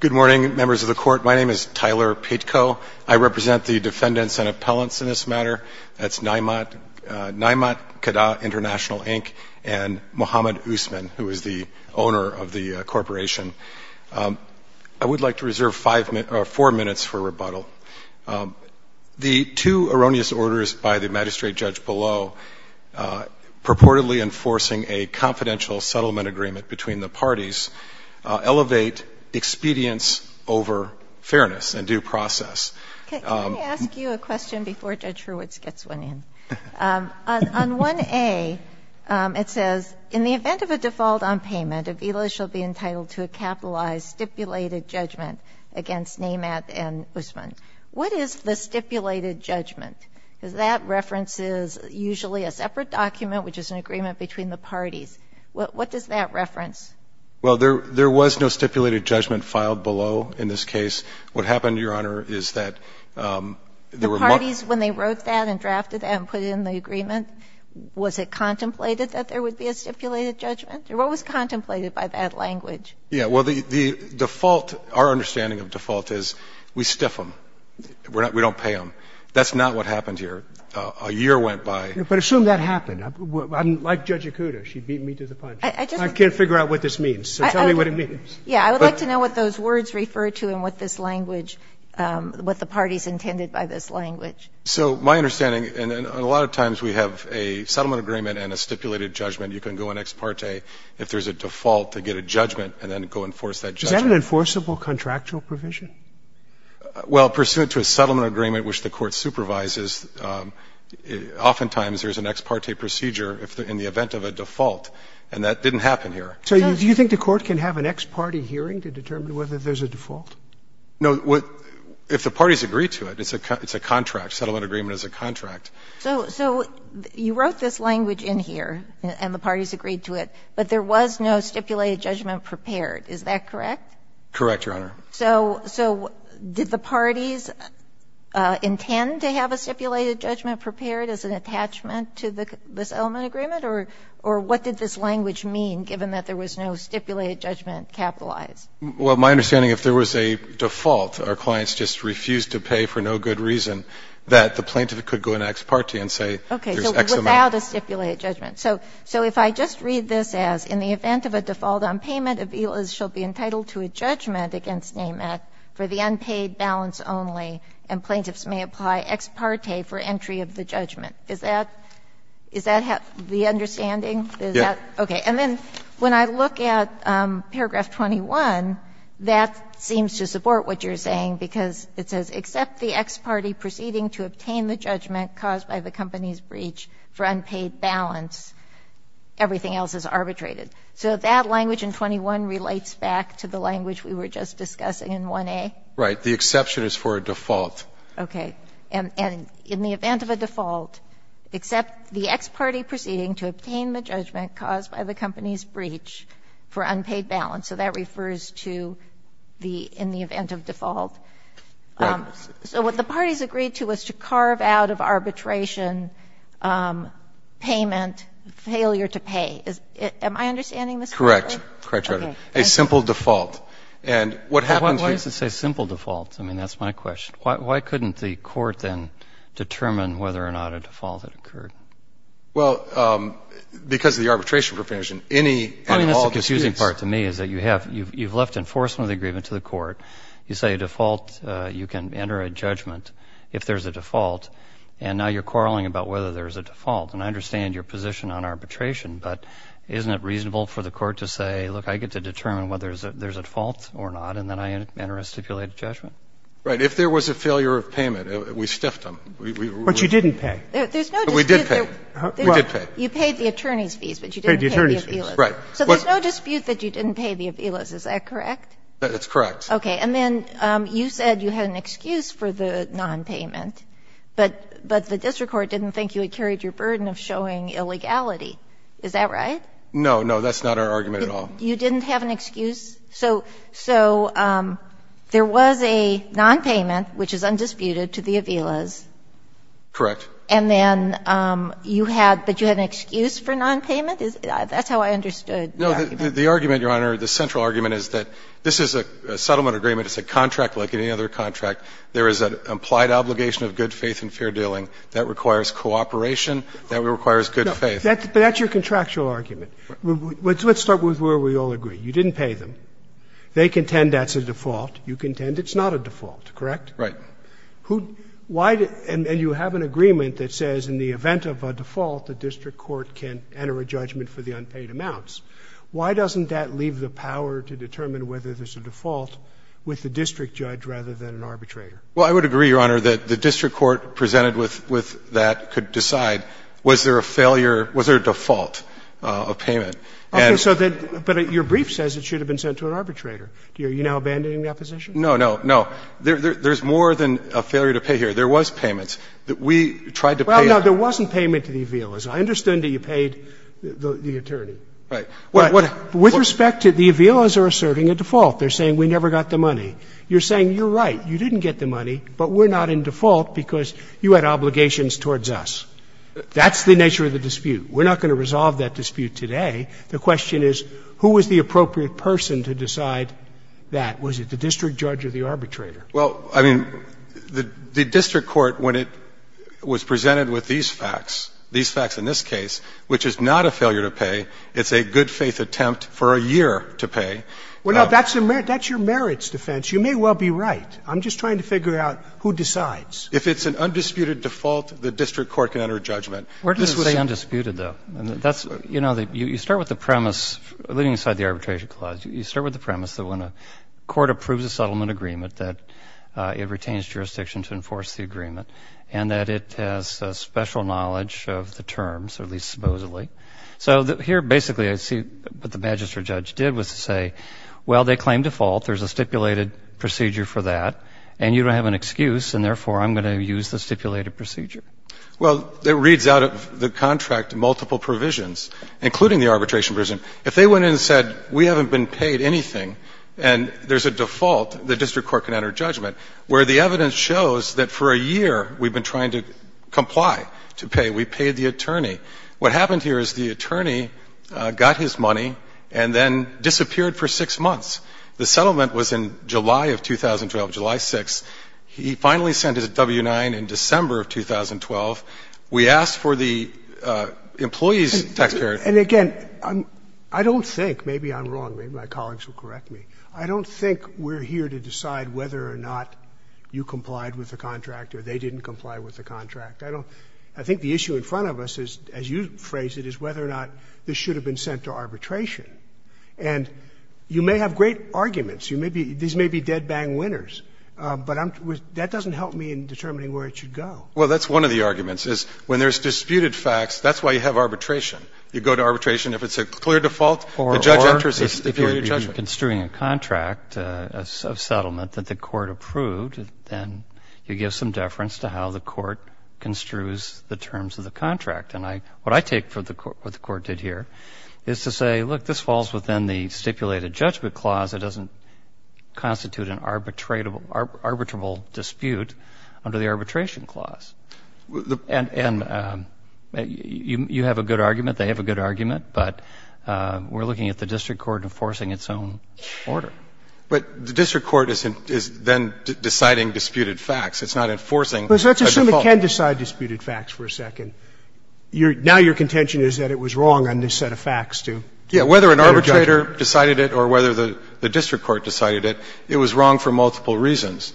Good morning, members of the court. My name is Tyler Pitko. I represent the defendants and appellants in this matter. That's Naimat Kadah International, Inc. and Mohamed Ousman, who is the owner of the corporation. I would like to reserve four minutes for rebuttal. The two erroneous orders by the magistrate judge below, purportedly enforcing a confidential settlement agreement between the parties, elevate expedience over fairness and due process. Let me ask you a question before Judge Hurwitz gets one in. On 1A, it says, In the event of a default on payment, Avila shall be entitled to a capitalized stipulated judgment against Naimat and Ousman. What is the stipulated judgment? Because that references usually a separate document, which is an agreement between the parties. What does that reference? Well, there was no stipulated judgment filed below in this case. What happened, Your Honor, is that there were more ---- The parties, when they wrote that and drafted that and put it in the agreement, was it contemplated that there would be a stipulated judgment? Or what was contemplated by that language? Yeah. Well, the default, our understanding of default is we stiff them, we don't pay them. That's not what happened here. A year went by. But assume that happened. Like Judge Ikuda, she beat me to the punch. I can't figure out what this means, so tell me what it means. Yeah. I would like to know what those words refer to and what this language, what the parties intended by this language. So my understanding, and a lot of times we have a settlement agreement and a stipulated judgment. You can go in ex parte if there's a default to get a judgment and then go enforce that judgment. Is that an enforceable contractual provision? Well, pursuant to a settlement agreement which the Court supervises, oftentimes there's an ex parte procedure in the event of a default, and that didn't happen here. So do you think the Court can have an ex parte hearing to determine whether there's a default? No. If the parties agree to it, it's a contract. Settlement agreement is a contract. So you wrote this language in here and the parties agreed to it, but there was no stipulated judgment prepared. Is that correct? Correct, Your Honor. So did the parties intend to have a stipulated judgment prepared as an attachment to this settlement agreement, or what did this language mean, given that there was no stipulated judgment capitalized? Well, my understanding, if there was a default, our clients just refused to pay for no good reason, that the plaintiff could go into ex parte and say there's X amount. Okay. So without a stipulated judgment. So if I just read this as, in the event of a default on payment, a villa shall be entitled to a judgment against NAMAC for the unpaid balance only, and plaintiffs may apply ex parte for entry of the judgment. Is that the understanding? Yes. Okay. And then when I look at paragraph 21, that seems to support what you're saying because it says except the ex parte proceeding to obtain the judgment caused by the company's breach for unpaid balance, everything else is arbitrated. So that language in 21 relates back to the language we were just discussing in 1A? Right. The exception is for a default. Okay. And in the event of a default, except the ex parte proceeding to obtain the judgment caused by the company's breach for unpaid balance. So that refers to the, in the event of default. Right. So what the parties agreed to was to carve out of arbitration payment, failure to pay. Am I understanding this correctly? Correct. Correct, Your Honor. A simple default. And what happens here Why does it say simple default? I mean, that's my question. Why couldn't the court then determine whether or not a default had occurred? Well, because of the arbitration provision, any and all disputes I mean, that's the confusing part to me is that you have, you've left enforcement of the agreement to the court, you say default, you can enter a judgment if there's a default, and now you're quarreling about whether there's a default. And I understand your position on arbitration, but isn't it reasonable for the court to say, look, I get to determine whether there's a default or not, and then I enter a stipulated judgment? Right. If there was a failure of payment, we stiffed them. But you didn't pay. There's no dispute. We did pay. We did pay. You paid the attorney's fees, but you didn't pay the appealers. Right. So there's no dispute that you didn't pay the appealers, is that correct? That's correct. Okay. And then you said you had an excuse for the nonpayment, but the district court didn't think you had carried your burden of showing illegality. Is that right? No, no. That's not our argument at all. You didn't have an excuse? So there was a nonpayment, which is undisputed, to the appealers. Correct. And then you had, but you had an excuse for nonpayment? That's how I understood the argument. No, the argument, Your Honor, the central argument is that this is a settlement agreement. It's a contract like any other contract. There is an implied obligation of good faith and fair dealing. That requires cooperation. That requires good faith. But that's your contractual argument. Let's start with where we all agree. You didn't pay them. They contend that's a default. You contend it's not a default, correct? Right. Why did you have an agreement that says in the event of a default, the district court can enter a judgment for the unpaid amounts? Why doesn't that leave the power to determine whether there's a default with the district judge rather than an arbitrator? Well, I would agree, Your Honor, that the district court presented with that could decide was there a failure, was there a default of payment. Okay. So then, but your brief says it should have been sent to an arbitrator. Are you now abandoning that position? No, no, no. There's more than a failure to pay here. There was payments. We tried to pay them. Well, no, there wasn't payment to the appealers. I understand that you paid the attorney. Right. With respect to the appealers are asserting a default. They're saying we never got the money. You're saying you're right, you didn't get the money, but we're not in default because you had obligations towards us. That's the nature of the dispute. We're not going to resolve that dispute today. The question is who was the appropriate person to decide that? Was it the district judge or the arbitrator? Well, I mean, the district court, when it was presented with these facts, these is not a failure to pay. It's a good-faith attempt for a year to pay. Well, no, that's your merits defense. You may well be right. I'm just trying to figure out who decides. If it's an undisputed default, the district court can enter judgment. Where does it say undisputed, though? You know, you start with the premise, leaving aside the arbitration clause, you start with the premise that when a court approves a settlement agreement that it retains jurisdiction to enforce the agreement and that it has special knowledge of the terms, or at least supposedly. So here, basically, I see what the magistrate judge did was to say, well, they claim default. There's a stipulated procedure for that, and you don't have an excuse, and therefore I'm going to use the stipulated procedure. Well, it reads out of the contract multiple provisions, including the arbitration provision. If they went in and said we haven't been paid anything and there's a default, the district court can enter judgment, where the evidence shows that for a year we've been trying to comply, to pay. We paid the attorney. What happened here is the attorney got his money and then disappeared for 6 months. The settlement was in July of 2012, July 6th. He finally sent his W-9 in December of 2012. We asked for the employee's taxpayer. And, again, I don't think, maybe I'm wrong, maybe my colleagues will correct me, I don't think we're here to decide whether or not you complied with the contract or they didn't comply with the contract. I don't – I think the issue in front of us is, as you phrased it, is whether or not this should have been sent to arbitration. And you may have great arguments. You may be – these may be dead-bang winners, but I'm – that doesn't help me in determining where it should go. Well, that's one of the arguments, is when there's disputed facts, that's why you have arbitration. You go to arbitration. If it's a clear default, the judge enters a stipulated judgment. Or if you're construing a contract, a settlement that the court approved, then you give some deference to how the court construes the terms of the contract. And I – what I take for what the court did here is to say, look, this falls within the stipulated judgment clause. It doesn't constitute an arbitratable dispute under the arbitration clause. And you have a good argument. They have a good argument. But we're looking at the district court enforcing its own order. But the district court is then deciding disputed facts. It's not enforcing a default. But let's assume it can decide disputed facts for a second. Your – now your contention is that it was wrong on this set of facts to enter judgment. Yeah. Whether an arbitrator decided it or whether the district court decided it, it was wrong for multiple reasons.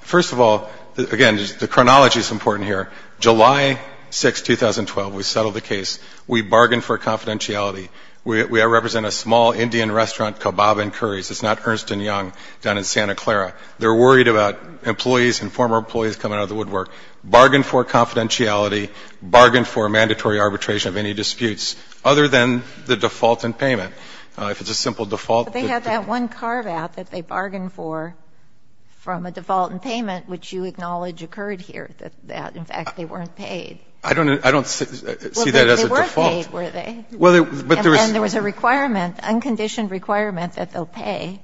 First of all, again, the chronology is important here. July 6, 2012, we settled the case. We bargained for confidentiality. We represent a small Indian restaurant, Kabob and Curry's. It's not Ernst & Young down in Santa Clara. They're worried about employees and former employees coming out of the woodwork. Bargained for confidentiality, bargained for mandatory arbitration of any disputes other than the default in payment. If it's a simple default. But they had that one carve-out that they bargained for from a default in payment, which you acknowledge occurred here, that in fact they weren't paid. I don't see that as a default. Well, they were paid, were they? And then there was a requirement, unconditioned requirement, that they'll pay.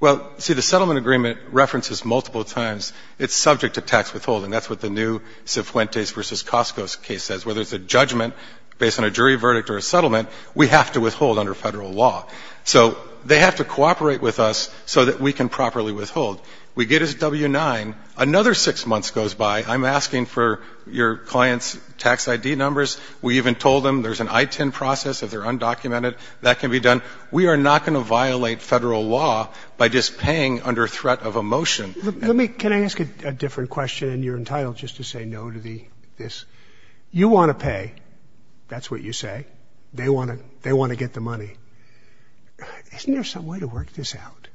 Well, see, the settlement agreement references multiple times it's subject to tax withholding. That's what the new Cifuentes v. Costco case says. Whether it's a judgment based on a jury verdict or a settlement, we have to withhold under federal law. So they have to cooperate with us so that we can properly withhold. We get his W-9. Another six months goes by. I'm asking for your client's tax ID numbers. We even told them there's an ITIN process if they're undocumented. That can be done. We are not going to violate federal law by just paying under threat of a motion. Can I ask a different question? And you're entitled just to say no to this. You want to pay. That's what you say. They want to get the money. Isn't there some way to work this out?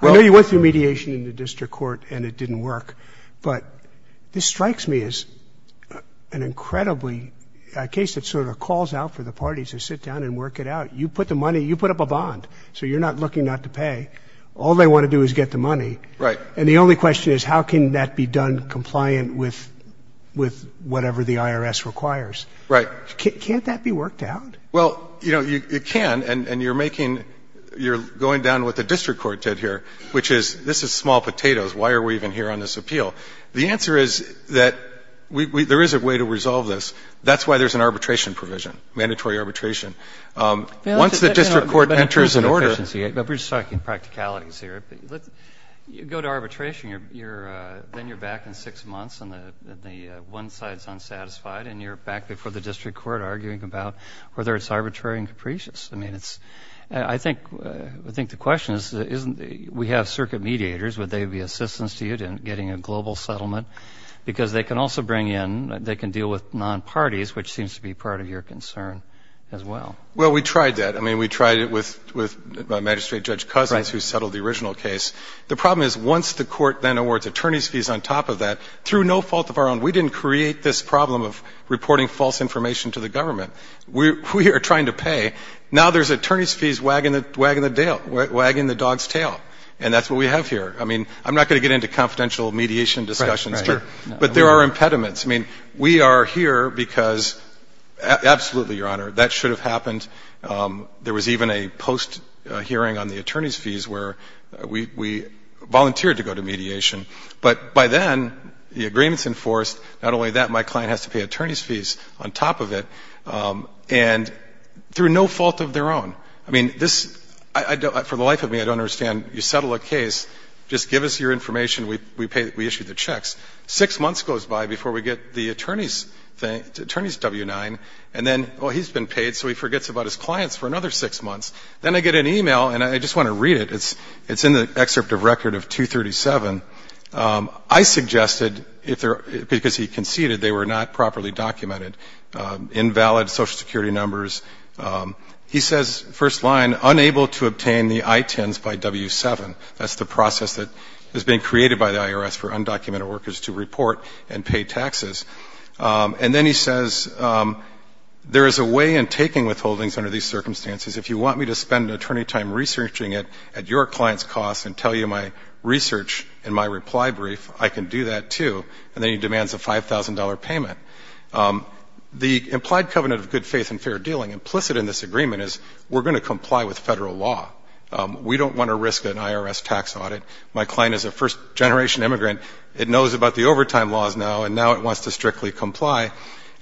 I know you went through mediation in the district court and it didn't work. But this strikes me as an incredibly, a case that sort of calls out for the parties to sit down and work it out. You put the money, you put up a bond, so you're not looking not to pay. All they want to do is get the money. Right. And the only question is how can that be done compliant with whatever the IRS requires? Right. Can't that be worked out? Well, you know, it can. And you're making, you're going down what the district court did here, which is this is small potatoes. Why are we even here on this appeal? The answer is that there is a way to resolve this. That's why there's an arbitration provision, mandatory arbitration. Once the district court enters an order. We're just talking practicalities here. You go to arbitration, then you're back in six months and the one side is unsatisfied and you're back before the district court arguing about whether it's arbitrary and capricious. I mean, I think the question is we have circuit mediators. Would they be assistance to you in getting a global settlement? Because they can also bring in, they can deal with non-parties, which seems to be part of your concern as well. Well, we tried that. I mean, we tried it with Magistrate Judge Cousins who settled the original case. The problem is once the court then awards attorney's fees on top of that, through no fault of our own, we didn't create this problem of reporting false information to the government. We are trying to pay. Now there's attorney's fees wagging the dog's tail. And that's what we have here. I mean, I'm not going to get into confidential mediation discussions, but there are impediments. I mean, we are here because absolutely, Your Honor, that should have happened. There was even a post-hearing on the attorney's fees where we volunteered to go to mediation. But by then, the agreement's enforced. Not only that, my client has to pay attorney's fees on top of it and through no fault of their own. I mean, this, for the life of me, I don't understand. You settle a case. Just give us your information. We issue the checks. Six months goes by before we get the attorney's W-9. And then, well, he's been paid, so he forgets about his clients for another six months. Then I get an e-mail, and I just want to read it. It's in the excerpt of record of 237. I suggested, because he conceded they were not properly documented, invalid Social Security numbers. He says, first line, unable to obtain the I-10s by W-7. That's the process that has been created by the IRS for undocumented workers to report and pay taxes. And then he says, there is a way in taking withholdings under these circumstances. If you want me to spend an attorney time researching it at your client's costs and tell you my research and my reply brief, I can do that, too. And then he demands a $5,000 payment. The implied covenant of good faith and fair dealing implicit in this agreement is we're going to comply with federal law. We don't want to risk an IRS tax audit. My client is a first-generation immigrant. It knows about the overtime laws now, and now it wants to strictly comply.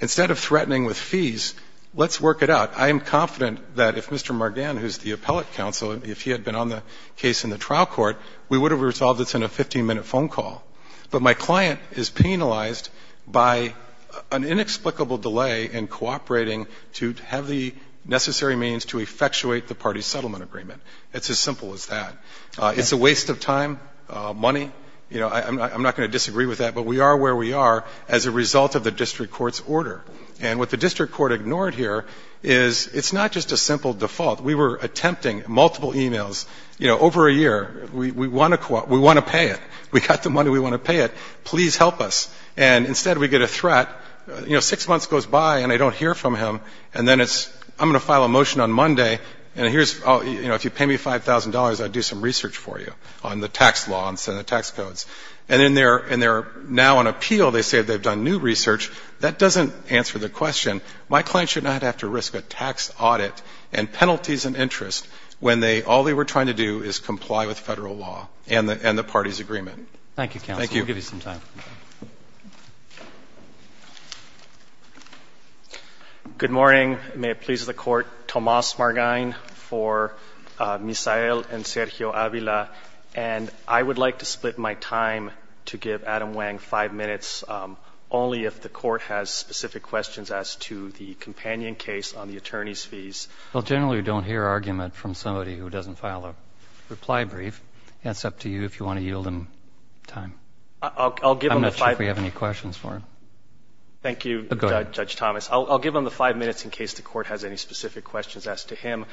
Instead of threatening with fees, let's work it out. I am confident that if Mr. Margan, who is the appellate counsel, if he had been on the case in the trial court, we would have resolved this in a 15-minute phone call. But my client is penalized by an inexplicable delay in cooperating to have the necessary means to effectuate the party settlement agreement. It's as simple as that. It's a waste of time, money. I'm not going to disagree with that, but we are where we are as a result of the district court's order. And what the district court ignored here is it's not just a simple default. We were attempting multiple emails over a year. We want to pay it. We got the money. We want to pay it. Please help us. And instead we get a threat. You know, six months goes by and I don't hear from him. And then it's, I'm going to file a motion on Monday, and here's, you know, if you pay me $5,000, I'd do some research for you on the tax laws and the tax codes. And then they're now on appeal. They say they've done new research. That doesn't answer the question. My client should not have to risk a tax audit and penalties and interest when they, all they were trying to do is comply with Federal law and the party's agreement. Thank you, counsel. We'll give you some time. Good morning. May it please the Court. Tomas Margain for Misael and Sergio Avila. And I would like to split my time to give Adam Wang five minutes, only if the Court has specific questions as to the companion case on the attorney's fees. Well, generally we don't hear argument from somebody who doesn't file a reply brief. It's up to you if you want to yield him time. I'm not sure if we have any questions for him. Thank you, Judge Tomas. I'll give him the five minutes in case the Court has any specific questions as to him.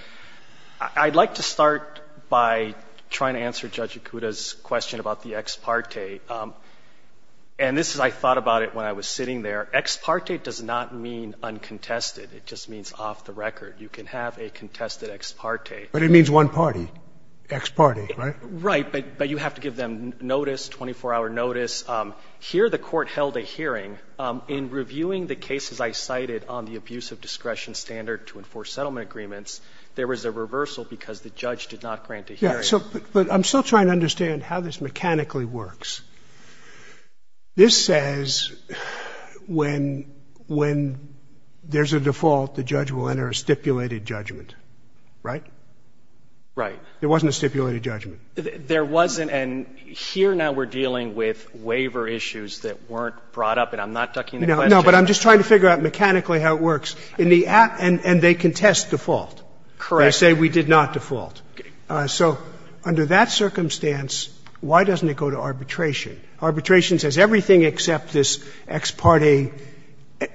I'd like to start by trying to answer Judge Ikuda's question about the ex parte. And this is, I thought about it when I was sitting there. Ex parte does not mean uncontested. It just means off the record. You can have a contested ex parte. But it means one party. Ex parte, right? Right, but you have to give them notice, 24-hour notice. Here the Court held a hearing. In reviewing the cases I cited on the abuse of discretion standard to enforce settlement agreements, there was a reversal because the judge did not grant a hearing. But I'm still trying to understand how this mechanically works. This says when there's a default, the judge will enter a stipulated judgment, right? Right. There wasn't a stipulated judgment. There wasn't. And here now we're dealing with waiver issues that weren't brought up. And I'm not ducking the question. No, but I'm just trying to figure out mechanically how it works. And they contest default. Correct. They say we did not default. Okay. So under that circumstance, why doesn't it go to arbitration? Arbitration says everything except this ex parte,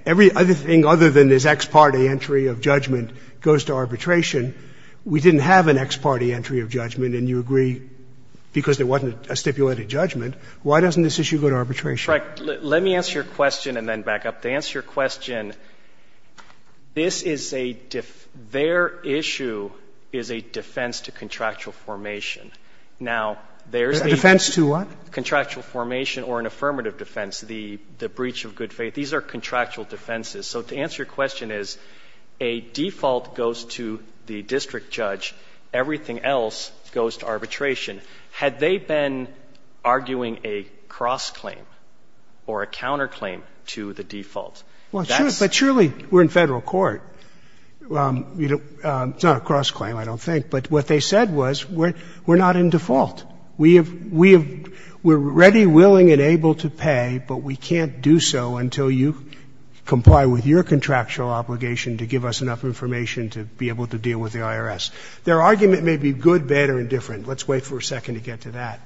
everything other than this ex parte entry of judgment goes to arbitration. We didn't have an ex parte entry of judgment. And you agree because there wasn't a stipulated judgment. Why doesn't this issue go to arbitration? Let me answer your question and then back up. To answer your question, this is a def — their issue is a defense to contractual formation. Now, there's a defense to what? Contractual formation or an affirmative defense, the breach of good faith. These are contractual defenses. So to answer your question is a default goes to the district judge, everything else goes to arbitration. Had they been arguing a cross-claim or a counter-claim to the default, that's Well, sure. But surely we're in Federal court. It's not a cross-claim, I don't think. But what they said was we're not in default. We have — we're ready, willing, and able to pay, but we can't do so until you comply with your contractual obligation to give us enough information to be able to deal with the IRS. Their argument may be good, bad, or indifferent. Let's wait for a second to get to that.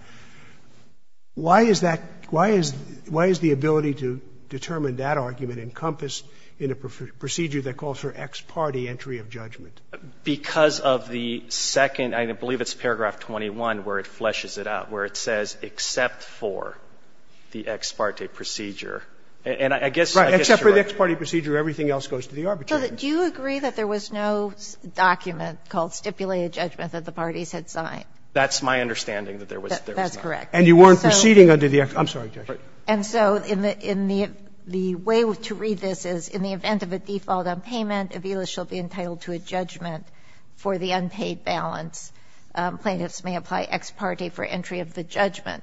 Why is that — why is the ability to determine that argument encompassed in a procedure that calls for ex parte entry of judgment? Because of the second — I believe it's paragraph 21 where it fleshes it out, where it says, except for the ex parte procedure. And I guess you're right. Right. Except for the ex parte procedure, everything else goes to the arbitrator. So do you agree that there was no document called stipulated judgment that the parties had signed? That's my understanding, that there was not. That's correct. And you weren't proceeding under the ex — I'm sorry, Judge. And so in the — the way to read this is, in the event of a default on payment, Avila shall be entitled to a judgment for the unpaid balance. Plaintiffs may apply ex parte for entry of the judgment.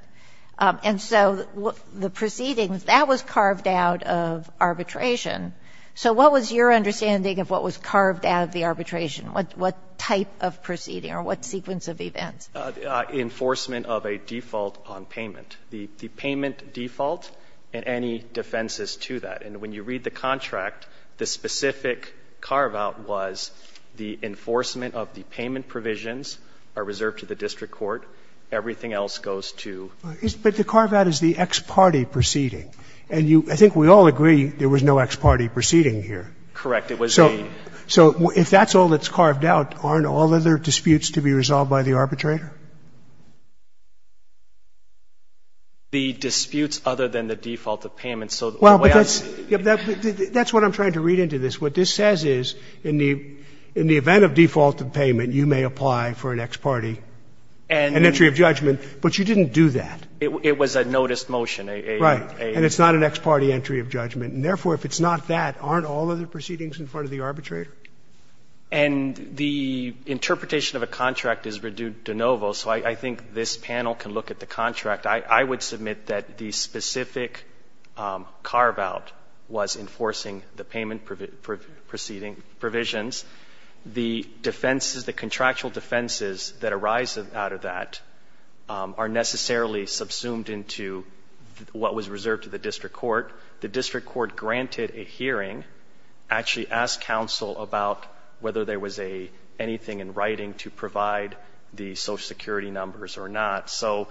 And so the proceedings, that was carved out of arbitration. So what was your understanding of what was carved out of the arbitration? What type of proceeding or what sequence of events? Enforcement of a default on payment. The payment default and any defenses to that. And when you read the contract, the specific carve-out was the enforcement of the payment provisions are reserved to the district court. Everything else goes to the— But the carve-out is the ex parte proceeding. And you — I think we all agree there was no ex parte proceeding here. Correct. It was a— So if that's all that's carved out, aren't all other disputes to be resolved by the arbitrator? The disputes other than the default of payment. Well, but that's — that's what I'm trying to read into this. What this says is, in the event of default of payment, you may apply for an ex parte and entry of judgment. But you didn't do that. It was a noticed motion. Right. And it's not an ex parte entry of judgment. And therefore, if it's not that, aren't all other proceedings in front of the arbitrator? And the interpretation of a contract is due de novo. So I think this panel can look at the contract. I would submit that the specific carve-out was enforcing the payment proceeding provisions. The defenses, the contractual defenses that arise out of that are necessarily subsumed into what was reserved to the district court. The district court granted a hearing, actually asked counsel about whether there was anything in writing to provide the Social Security numbers or not. So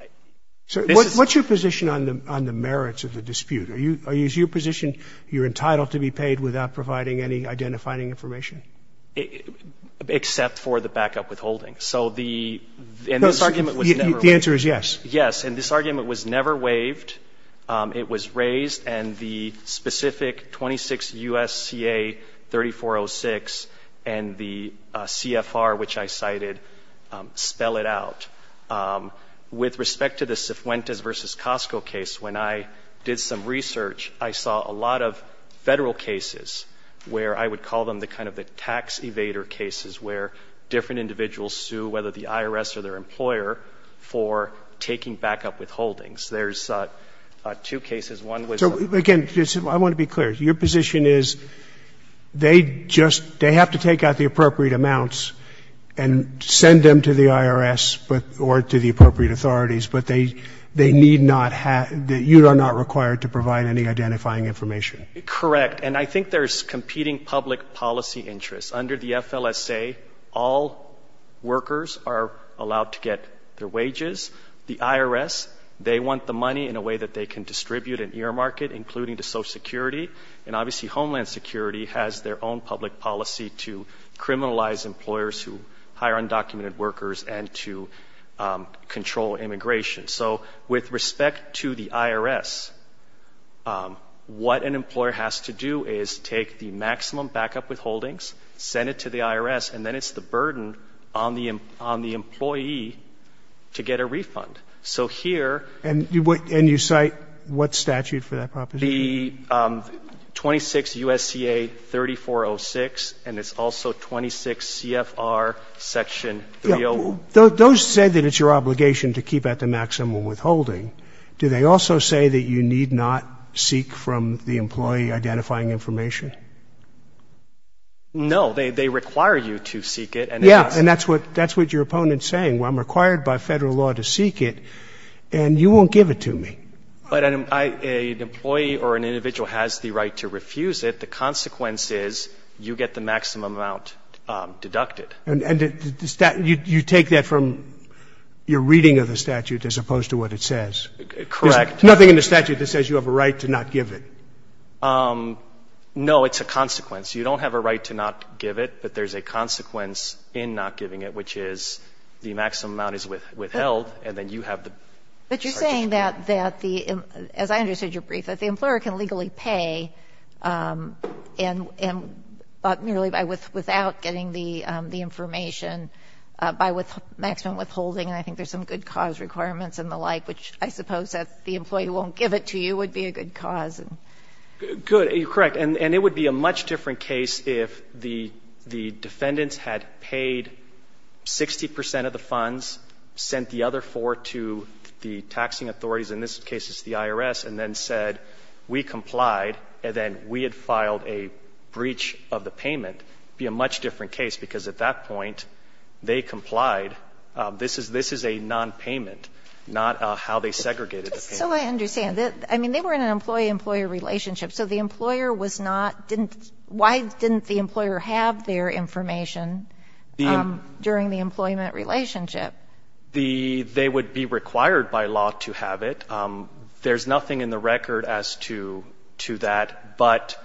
— So what's your position on the merits of the dispute? Is your position you're entitled to be paid without providing any identifying information? Except for the backup withholding. So the — and this argument was never — The answer is yes. Yes. And this argument was never waived. It was raised, and the specific 26 U.S.C.A. 3406 and the CFR, which I cited, spell it out. With respect to the Cifuentes v. Costco case, when I did some research, I saw a lot of Federal cases where I would call them the kind of the tax evader cases where different individuals sue, whether the IRS or their employer, for taking backup withholdings. There's two cases. One was — So, again, I want to be clear. Your position is they just — they have to take out the appropriate amounts and send them to the IRS or to the appropriate authorities, but they need not have — you are not required to provide any identifying information? Correct. And I think there's competing public policy interests. Under the FLSA, all workers are allowed to get their wages. The IRS, they want the money in a way that they can distribute and earmark it, including to Social Security. And, obviously, Homeland Security has their own public policy to criminalize employers who hire undocumented workers and to control immigration. So, with respect to the IRS, what an employer has to do is take the maximum backup withholdings, send it to the IRS, and then it's the burden on the employee to get a refund. So, here — And you cite what statute for that proposition? The 26 U.S.C.A. 3406, and it's also 26 CFR Section 306. Those say that it's your obligation to keep at the maximum withholding. Do they also say that you need not seek from the employee identifying information? No. They require you to seek it, and it's — Yeah. And that's what your opponent is saying. I'm required by Federal law to seek it, and you won't give it to me. But an employee or an individual has the right to refuse it. The consequence is you get the maximum amount deducted. And you take that from your reading of the statute as opposed to what it says? Correct. There's nothing in the statute that says you have a right to not give it? No, it's a consequence. You don't have a right to not give it, but there's a consequence in not giving it, which is the maximum amount is withheld, and then you have the — But you're saying that the — as I understood your brief, that the employer can legally pay and — but merely without getting the information by maximum withholding, and I think there's some good cause requirements and the like, which I suppose that the employee won't give it to you would be a good cause. Good. You're correct. And it would be a much different case if the defendants had paid 60 percent of the funds, sent the other 4 to the taxing authorities, in this case it's the IRS, and then said, we complied, and then we had filed a breach of the payment. It would be a much different case, because at that point they complied. This is a nonpayment, not how they segregated the payment. So I understand. I mean, they were in an employee-employer relationship. So the employer was not — didn't — why didn't the employer have their information during the employment relationship? The — they would be required by law to have it. There's nothing in the record as to that, but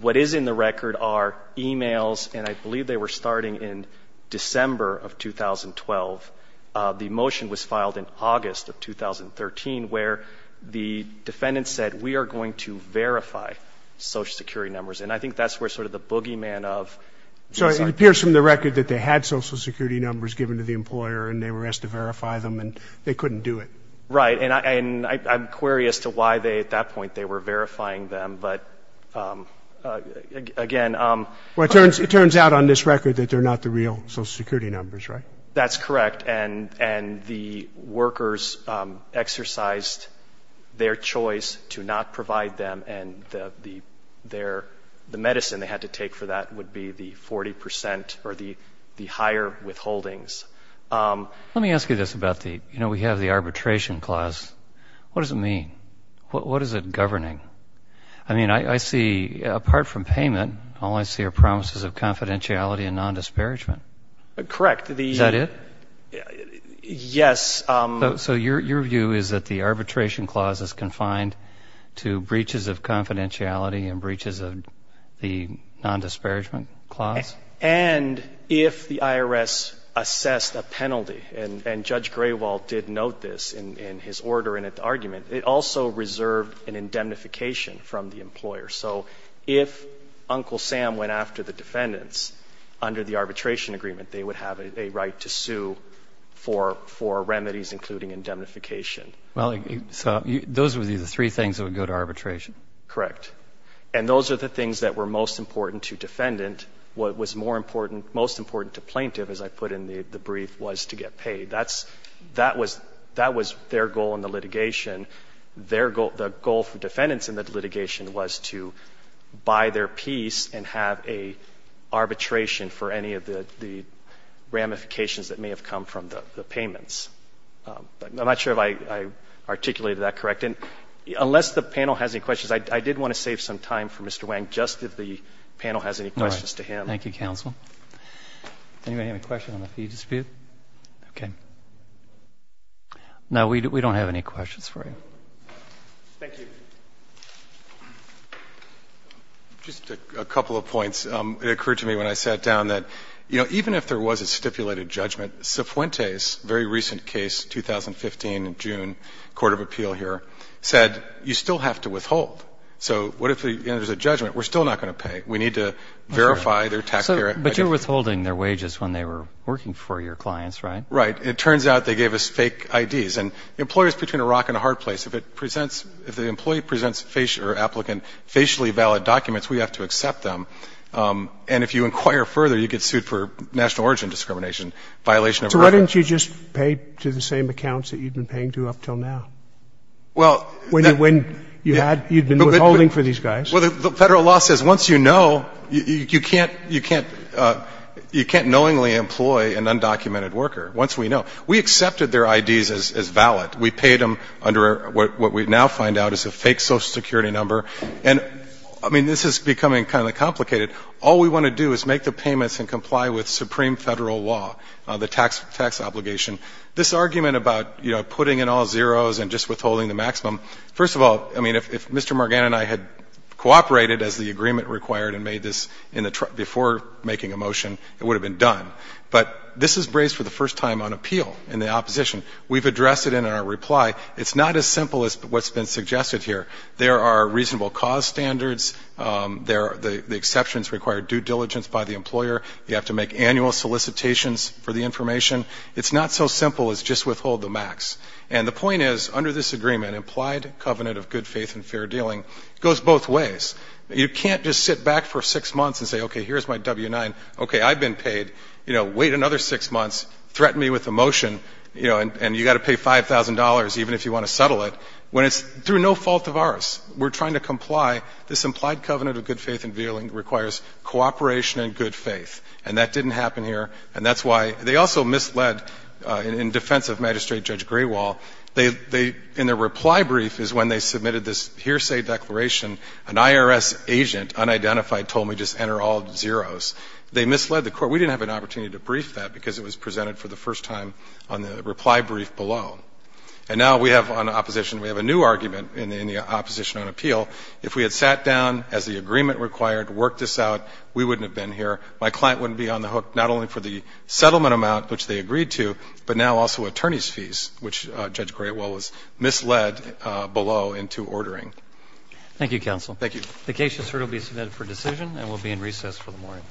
what is in the record are e-mails, and I believe they were starting in December of 2012. The motion was filed in August of 2013, where the defendant said, we are going to verify Social Security numbers. And I think that's where sort of the boogeyman of — So it appears from the record that they had Social Security numbers given to the employer, and they were asked to verify them, and they couldn't do it. Right. And I'm query as to why they, at that point, they were verifying them. But, again — Well, it turns out on this record that they're not the real Social Security numbers, right? That's correct, and the workers exercised their choice to not provide them, and the medicine they had to take for that would be the 40 percent or the higher withholdings. Let me ask you this about the — you know, we have the arbitration clause. What does it mean? What is it governing? I mean, I see, apart from payment, all I see are promises of confidentiality and nondisparagement. Correct. Is that it? Yes. So your view is that the arbitration clause is confined to breaches of confidentiality and breaches of the nondisparagement clause? And if the IRS assessed a penalty, and Judge Graywalt did note this in his order and at the argument, it also reserved an indemnification from the employer. So if Uncle Sam went after the defendants under the arbitration agreement, they would have a right to sue for remedies including indemnification. Well, so those would be the three things that would go to arbitration? Correct. And those are the things that were most important to defendant. What was more important, most important to plaintiff, as I put in the brief, was to get paid. That's — that was their goal in the litigation. Their goal — the goal for defendants in the litigation was to buy their piece and have a arbitration for any of the ramifications that may have come from the payments. I'm not sure if I articulated that correctly. Unless the panel has any questions, I did want to save some time for Mr. Wang, just if the panel has any questions to him. All right. Thank you, counsel. Does anybody have a question on the fee dispute? Okay. No, we don't have any questions for you. Thank you. Just a couple of points. It occurred to me when I sat down that, you know, even if there was a stipulated judgment, Cifuentes' very recent case, 2015 in June, court of appeal here, said, you still have to withhold. So what if there's a judgment? We're still not going to pay. We need to verify their tax — But you're withholding their wages when they were working for your clients, right? Right. It turns out they gave us fake IDs. And employers are between a rock and a hard place. If it presents — if the employee presents or applicant facially valid documents, we have to accept them. And if you inquire further, you get sued for national origin discrimination, violation of — So why didn't you just pay to the same accounts that you'd been paying to up until now? Well — When you had — you'd been withholding for these guys. Well, the federal law says once you know, you can't — you can't — you can't knowingly employ an undocumented worker. Once we know. We accepted their IDs as valid. We paid them under what we now find out is a fake Social Security number. And, I mean, this is becoming kind of complicated. All we want to do is make the payments and comply with supreme federal law, the tax obligation. This argument about, you know, putting in all zeros and just withholding the maximum, first of all, I mean, if Mr. Morgan and I had cooperated as the agreement required and made this in the — before making a motion, it would have been done. But this is raised for the first time on appeal in the opposition. We've addressed it in our reply. It's not as simple as what's been suggested here. There are reasonable cause standards. There are — the exceptions require due diligence by the employer. You have to make annual solicitations for the information. It's not so simple as just withhold the max. And the point is, under this agreement, implied covenant of good faith and fair dealing goes both ways. You can't just sit back for six months and say, okay, here's my W-9. Okay, I've been paid. You know, wait another six months. Threaten me with a motion, you know, and you've got to pay $5,000 even if you want to settle it, when it's through no fault of ours. We're trying to comply. This implied covenant of good faith and fair dealing requires cooperation and good faith. And that didn't happen here. And that's why — they also misled, in defense of Magistrate Judge Graywall, they — in their reply brief is when they submitted this hearsay declaration, an IRS agent, unidentified, told me just enter all zeros. They misled the court. We didn't have an opportunity to brief that because it was presented for the first time on the reply brief below. And now we have on opposition — we have a new argument in the opposition on appeal. If we had sat down as the agreement required, worked this out, we wouldn't have been here. My client wouldn't be on the hook not only for the settlement amount, which they agreed to, but now also attorney's fees, which Judge Graywall has misled below into ordering. Thank you, counsel. Thank you. The case has now been submitted for decision and will be in recess for the morning.